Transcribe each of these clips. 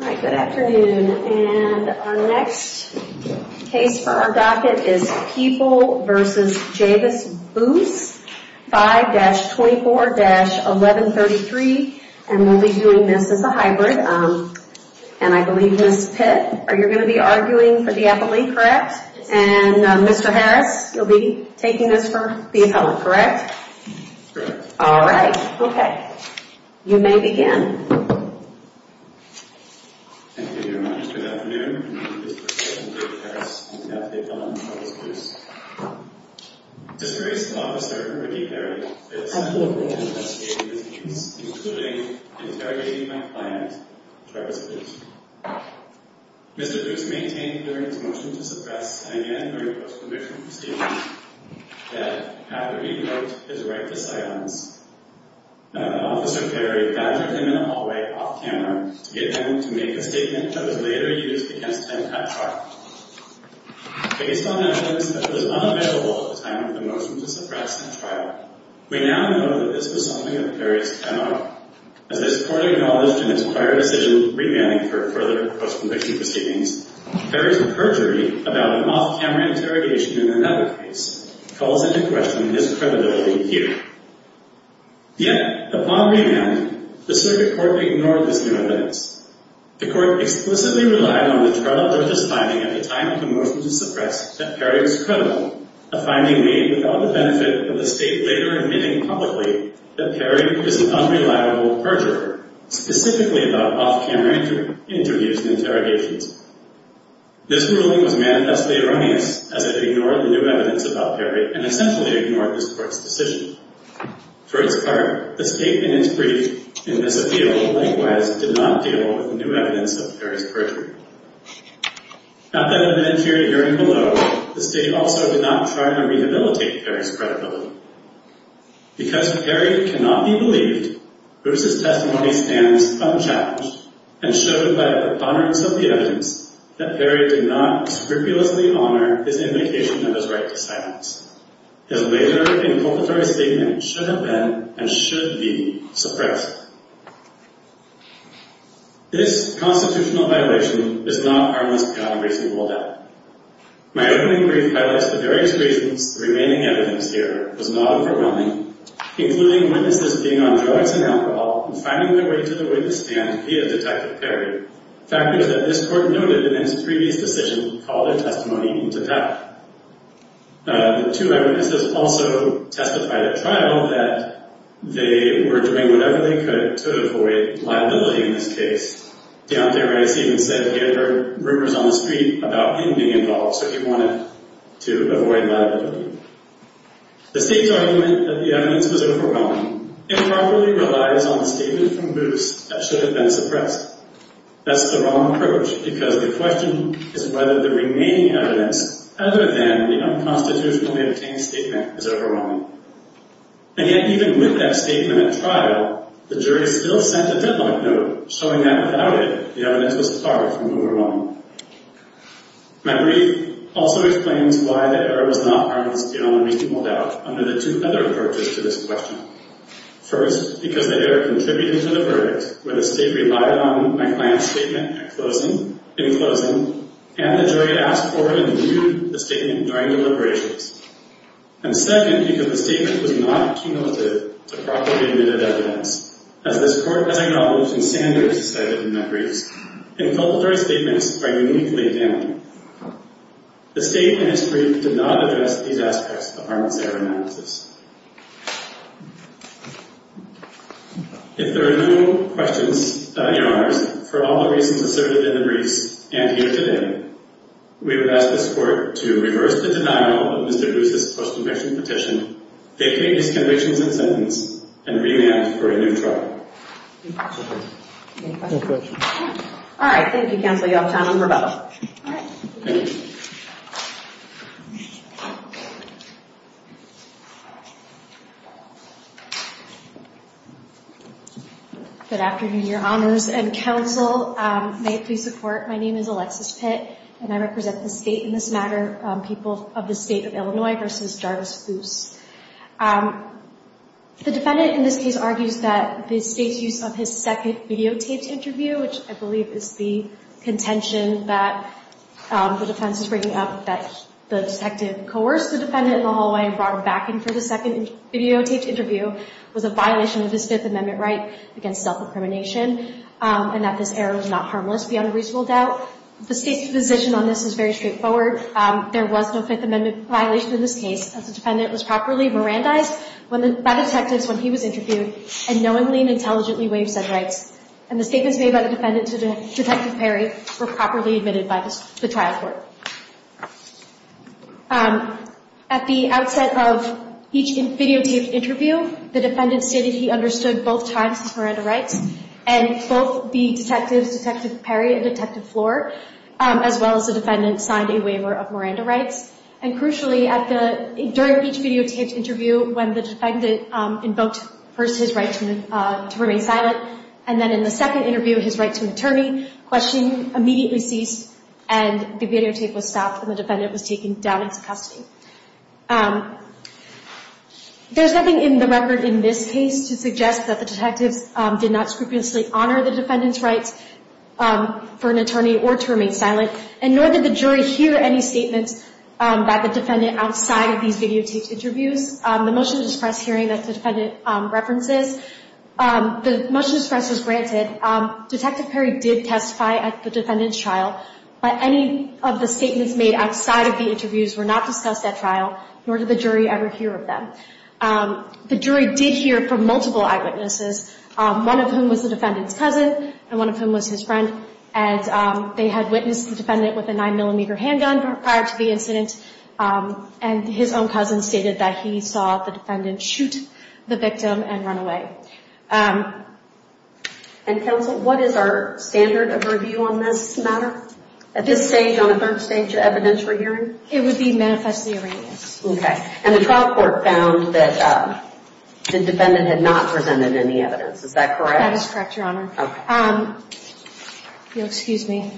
Alright, good afternoon. And our next case for our docket is People v. Javis Boose, 5-24-1133, and we'll be doing this as a hybrid. And I believe Ms. Pitt, you're going to be arguing for the appellate, correct? And Mr. Harris, you'll be taking this for the appellate, correct? Correct. Alright, okay. You may begin. Thank you very much. Good afternoon. I'm Mr. Harris, and I'm the appellate on Javis Boose. This very small officer, Ricky Perry, is sentencing and investigating this case, including interrogating my client, Javis Boose. Mr. Boose maintained during his motion to suppress, and again during post-conviction proceedings, that after he wrote his right to silence, Officer Perry badgered him in a hallway off-camera to get him to make a statement that was later used against him at trial. Based on evidence that was unavailable at the time of the motion to suppress at trial, we now know that this was something that Perry stemmed out of, as this court acknowledged in its prior decision remanding for further post-conviction proceedings, Perry's perjury about an off-camera interrogation in another case calls into question his credibility here. Yet, upon remand, the circuit court ignored this new evidence. The court explicitly relied on the trial judge's finding at the time of the motion to suppress that Perry was credible, a finding made without the benefit of the state later admitting publicly that Perry is an unreliable perjurer, specifically about off-camera interviews and interrogations. This ruling was manifestly erroneous, as it ignored the new evidence about Perry and essentially ignored this court's decision. For its part, the state, in its brief, in this appeal, likewise, did not deal with the new evidence of Perry's perjury. Not that it meant hearing below, the state also did not try to rehabilitate Perry's credibility. Because Perry cannot be believed, Bruce's testimony stands unchallenged and showed by the preponderance of the evidence that Perry did not scrupulously honor his indication of his right to silence. His later inculpatory statement should have been and should be suppressed. This constitutional violation is not harmless, beyond a reasonable doubt. My opening brief highlights the various reasons the remaining evidence here was not overwhelming, including witnesses being on drugs and alcohol and finding their way to the witness stand via Detective Perry, factors that this court noted in its previous decision to call their testimony into doubt. The two witnesses also testified at trial that they were doing whatever they could to avoid liability in this case. Deontay Rice even said he had heard rumors on the street about him being involved, so he wanted to avoid liability. The state's argument that the evidence was overwhelming improperly relies on the statement from Bruce that should have been suppressed. That's the wrong approach, because the question is whether the remaining evidence, other than the unconstitutionally obtained statement, is overwhelming. And yet, even with that statement at trial, the jury still sent a deadline note showing that without it, the evidence was far from overwhelming. My brief also explains why the error was not harmless, beyond a reasonable doubt, under the two other approaches to this question. First, because the error contributed to the verdict, where the state relied on my client's statement in closing, and the jury asked for and reviewed the statement during deliberations. And second, because the statement was not cumulative to properly admitted evidence, as this court has acknowledged in standards decided in my briefs, and felt that our statements are uniquely damaging. The state in its brief did not address these aspects of harmless error analysis. If there are no questions, Your Honors, for all the reasons asserted in the briefs, and here today, we would ask this court to reverse the denial of Mr. Bruce's post-conviction petition, vacate his convictions and sentence, and re-enact for a new trial. Any questions? No questions. All right. Thank you, Counsel Yeltsin. I'm Rebecca. All right. Good afternoon, Your Honors and Counsel. May it please support, my name is Alexis Pitt, and I represent the state in this matter, people of the state of Illinois versus Jarvis Foose. The defendant in this case argues that the state's use of his second videotaped interview, which I believe is the contention that the defense is bringing up, that the detective coerced the defendant in the hallway and brought him back in for the second videotaped interview, was a violation of his Fifth Amendment right against self-incrimination, and that this error was not harmless beyond reasonable doubt. The state's position on this is very straightforward. There was no Fifth Amendment violation in this case. The defendant was properly Mirandized by the detectives when he was interviewed, and knowingly and intelligently waived said rights. And the statements made by the defendant to Detective Perry were properly admitted by the trial court. At the outset of each videotaped interview, the defendant stated he understood both times his Miranda rights, and both the detectives, Detective Perry and Detective Flohr, as well as the defendant, signed a waiver of Miranda rights. And crucially, during each videotaped interview, when the defendant invoked first his right to remain silent, and then in the second interview his right to an attorney, questioning immediately ceased, and the videotape was stopped and the defendant was taken down into custody. There's nothing in the record in this case to suggest that the detectives did not scrupulously honor the defendant's rights for an attorney or to remain silent, and nor did the jury hear any statements by the defendant outside of these videotaped interviews. The motion to express hearing that the defendant references, the motion to express was granted. Detective Perry did testify at the defendant's trial, but any of the statements made outside of the interviews were not discussed at trial, nor did the jury ever hear of them. The jury did hear from multiple eyewitnesses, one of whom was the defendant's cousin, and one of whom was his friend, and they had witnessed the defendant with a 9mm handgun prior to the incident, and his own cousin stated that he saw the defendant shoot the victim and run away. And counsel, what is our standard of review on this matter? At this stage, on a third stage of evidentiary hearing? It would be manifestly erroneous. Okay, and the trial court found that the defendant had not presented any evidence, is that correct? That is correct, Your Honor. Okay. If you'll excuse me.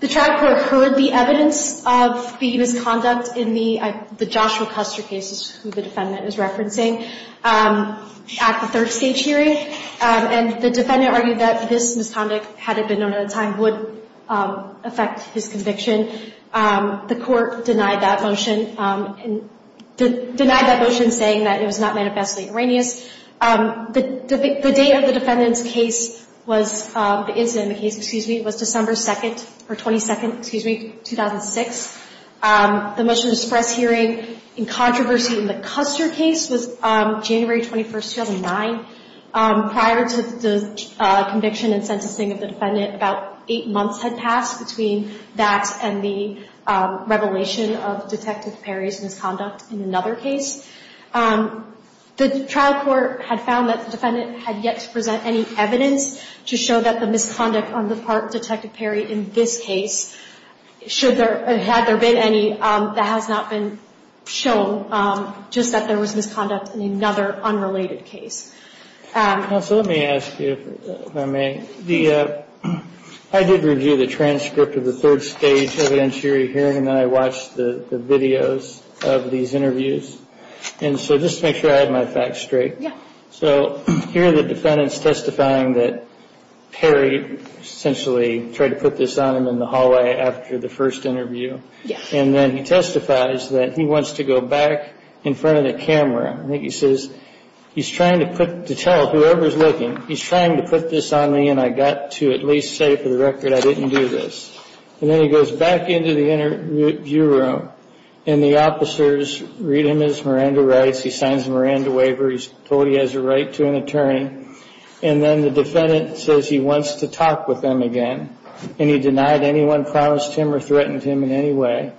The trial court heard the evidence of the misconduct in the Joshua Custer cases, who the defendant is referencing, at the third stage hearing, and the defendant argued that this misconduct, had it been known at the time, would affect his conviction. The court denied that motion, saying that it was not manifestly erroneous. The date of the defendant's case was, the incident in the case, excuse me, was December 2nd, or 22nd, excuse me, 2006. The motion to express hearing in controversy in the Custer case was January 21st, 2009. Prior to the conviction and sentencing of the defendant, about eight months had passed between that and the revelation of Detective Perry's misconduct in another case. The trial court had found that the defendant had yet to present any evidence to show that the misconduct on the part of Detective Perry in this case, had there been any, that has not been shown, just that there was misconduct in another unrelated case. Counsel, let me ask you, if I may. I did review the transcript of the third stage evidentiary hearing, and then I watched the videos of these interviews. And so, just to make sure I had my facts straight. So, here the defendant's testifying that Perry essentially tried to put this on him in the hallway after the first interview. And then he testifies that he wants to go back in front of the camera. I think he says, he's trying to put, to tell whoever's looking, he's trying to put this on me, and I got to at least say for the record I didn't do this. And then he goes back into the interview room, and the officers read him his Miranda rights. He signs a Miranda waiver. He's told he has a right to an attorney. And then the defendant says he wants to talk with him again, and he denied anyone promised him or threatened him in any way.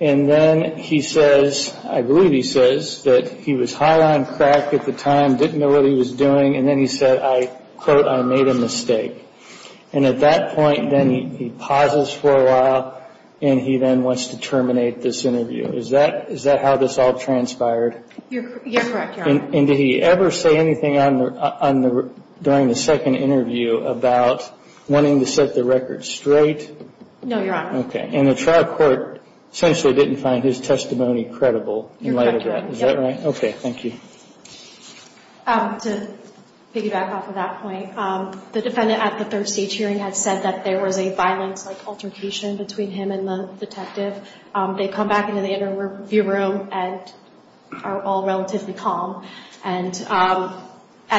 And then he says, I believe he says, that he was high on crack at the time, didn't know what he was doing, and then he said, I quote, I made a mistake. And at that point, then he pauses for a while, and he then wants to terminate this interview. Is that how this all transpired? You're correct, Your Honor. And did he ever say anything during the second interview about wanting to set the record straight? No, Your Honor. Okay. And the trial court essentially didn't find his testimony credible in light of that. Is that right? Okay. Thank you. To piggyback off of that point, the defendant at the third stage hearing had said that there was a violence, like altercation between him and the detective. They come back into the interview room and are all relatively calm. And at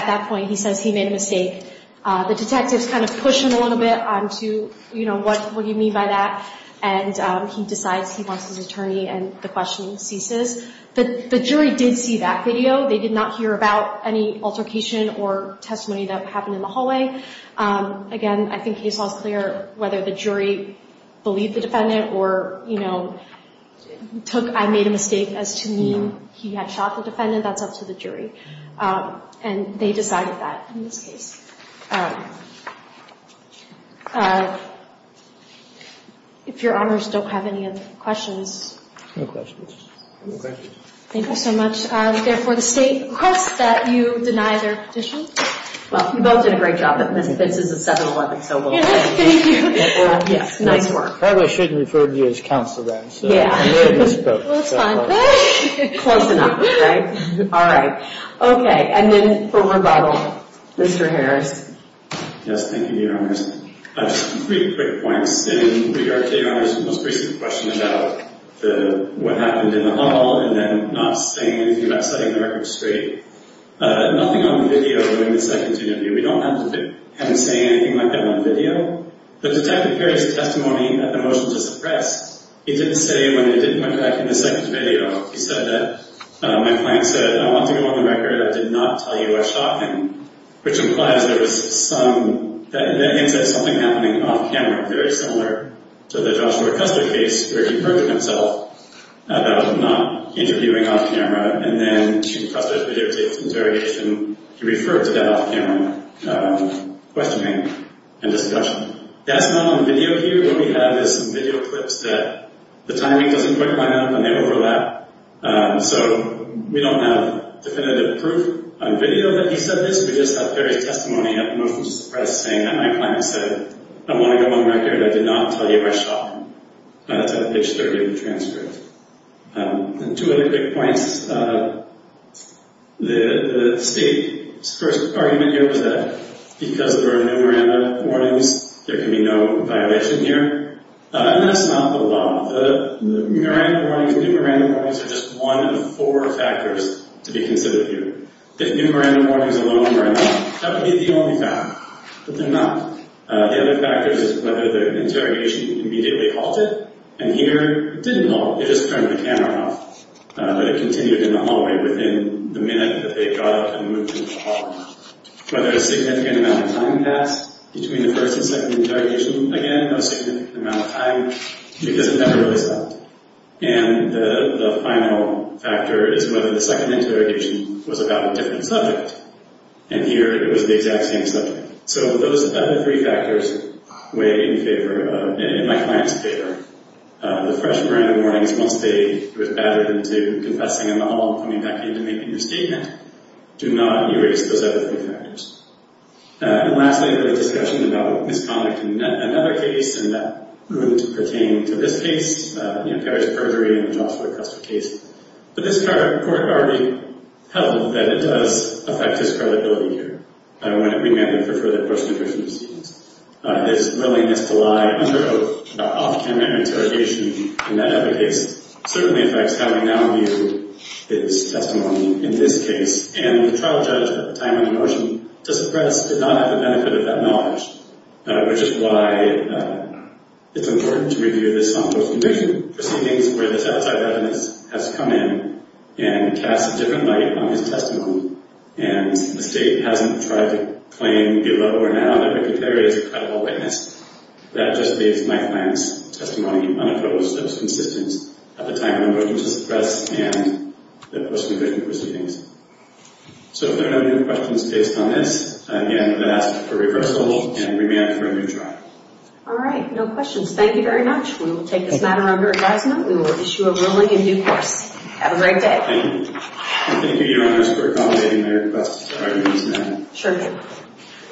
that point, he says he made a mistake. The detectives kind of push him a little bit on to, you know, what do you mean by that? And he decides he wants his attorney, and the questioning ceases. The jury did see that video. They did not hear about any altercation or testimony that happened in the hallway. Again, I think case law is clear whether the jury believed the defendant or, you know, took, I made a mistake as to mean he had shot the defendant. That's up to the jury. And they decided that in this case. If Your Honors don't have any other questions. No questions. No questions. Thank you so much. Therefore, the state requests that you deny their petition. Well, you both did a great job. This is a 7-11, so we'll let you do it. Nice work. I probably shouldn't have referred you as counsel then. Yeah. Well, it's fine. Close enough, right? All right. Okay. And then for rebuttal, Mr. Harris. Yes, thank you, Your Honors. Just three quick points in regard to Your Honors' most recent question about what happened in the hall and then not saying anything about setting the record straight. Nothing on the video during the second interview. We don't have him saying anything like that on video. The detective carries a testimony that the motion was suppressed. He didn't say when it didn't go back in the second video. He said that my client said, I want to go on the record I did not tell you I shot him, which implies there was some, in that instance, something happening off camera, very similar to the Joshua Custer case where he perjured himself about not interviewing off camera and then to Custer's videotape interrogation, he referred to that off camera questioning and discussion. That's not on the video here. What we have is some video clips that the timing doesn't quite line up and they overlap. So we don't have definitive proof on video that he said this. We just have various testimony that the motion was suppressed saying that my client said, I want to go on the record I did not tell you I shot him. That's at page 30 of the transcript. Two other quick points. The state's first argument here was that because there are new Miranda warnings, there can be no violation here. That's not the law. The new Miranda warnings are just one of four factors to be considered here. If new Miranda warnings alone are enough, that would be the only factor, but they're not. The other factor is whether the interrogation immediately halted. Here it didn't halt. It just turned the camera off. But it continued in the hallway within the minute that they got up and moved into the hall. Whether a significant amount of time passed between the first and second interrogation, again, no significant amount of time because it never really stopped. The final factor is whether the second interrogation was about a different subject. Here it was the exact same subject. So those other three factors weigh in favor, in my client's favor. The fresh Miranda warnings, once they were battered into confessing in the hall and coming back in to making their statement, do not erase those other three factors. And lastly, the discussion about misconduct in another case, and that wouldn't pertain to this case, Perry's perjury in the Joshua Custer case. But this court already held that it does affect his credibility here. I don't want to remand him for further post-conviction proceedings. His willingness to lie under an off-camera interrogation in that other case certainly affects how we now view his testimony in this case. And the trial judge at the time of the motion to suppress did not have the benefit of that knowledge, which is why it's important to review this on post-conviction proceedings where this outside witness has come in and cast a different light on his testimony and the state hasn't tried to claim, below or now, that McIntyre is a credible witness. That just leaves my client's testimony unopposed. It's consistent at the time of the motion to suppress and the post-conviction proceedings. So if there are no further questions based on this, again, I'm going to ask for reversal and remand for a new trial. All right. No questions. Thank you very much. We will take this matter under advisement. We will issue a ruling in due course. Have a great day. Thank you. And thank you, Your Honors, for accommodating my request for review this matter. Sure thing.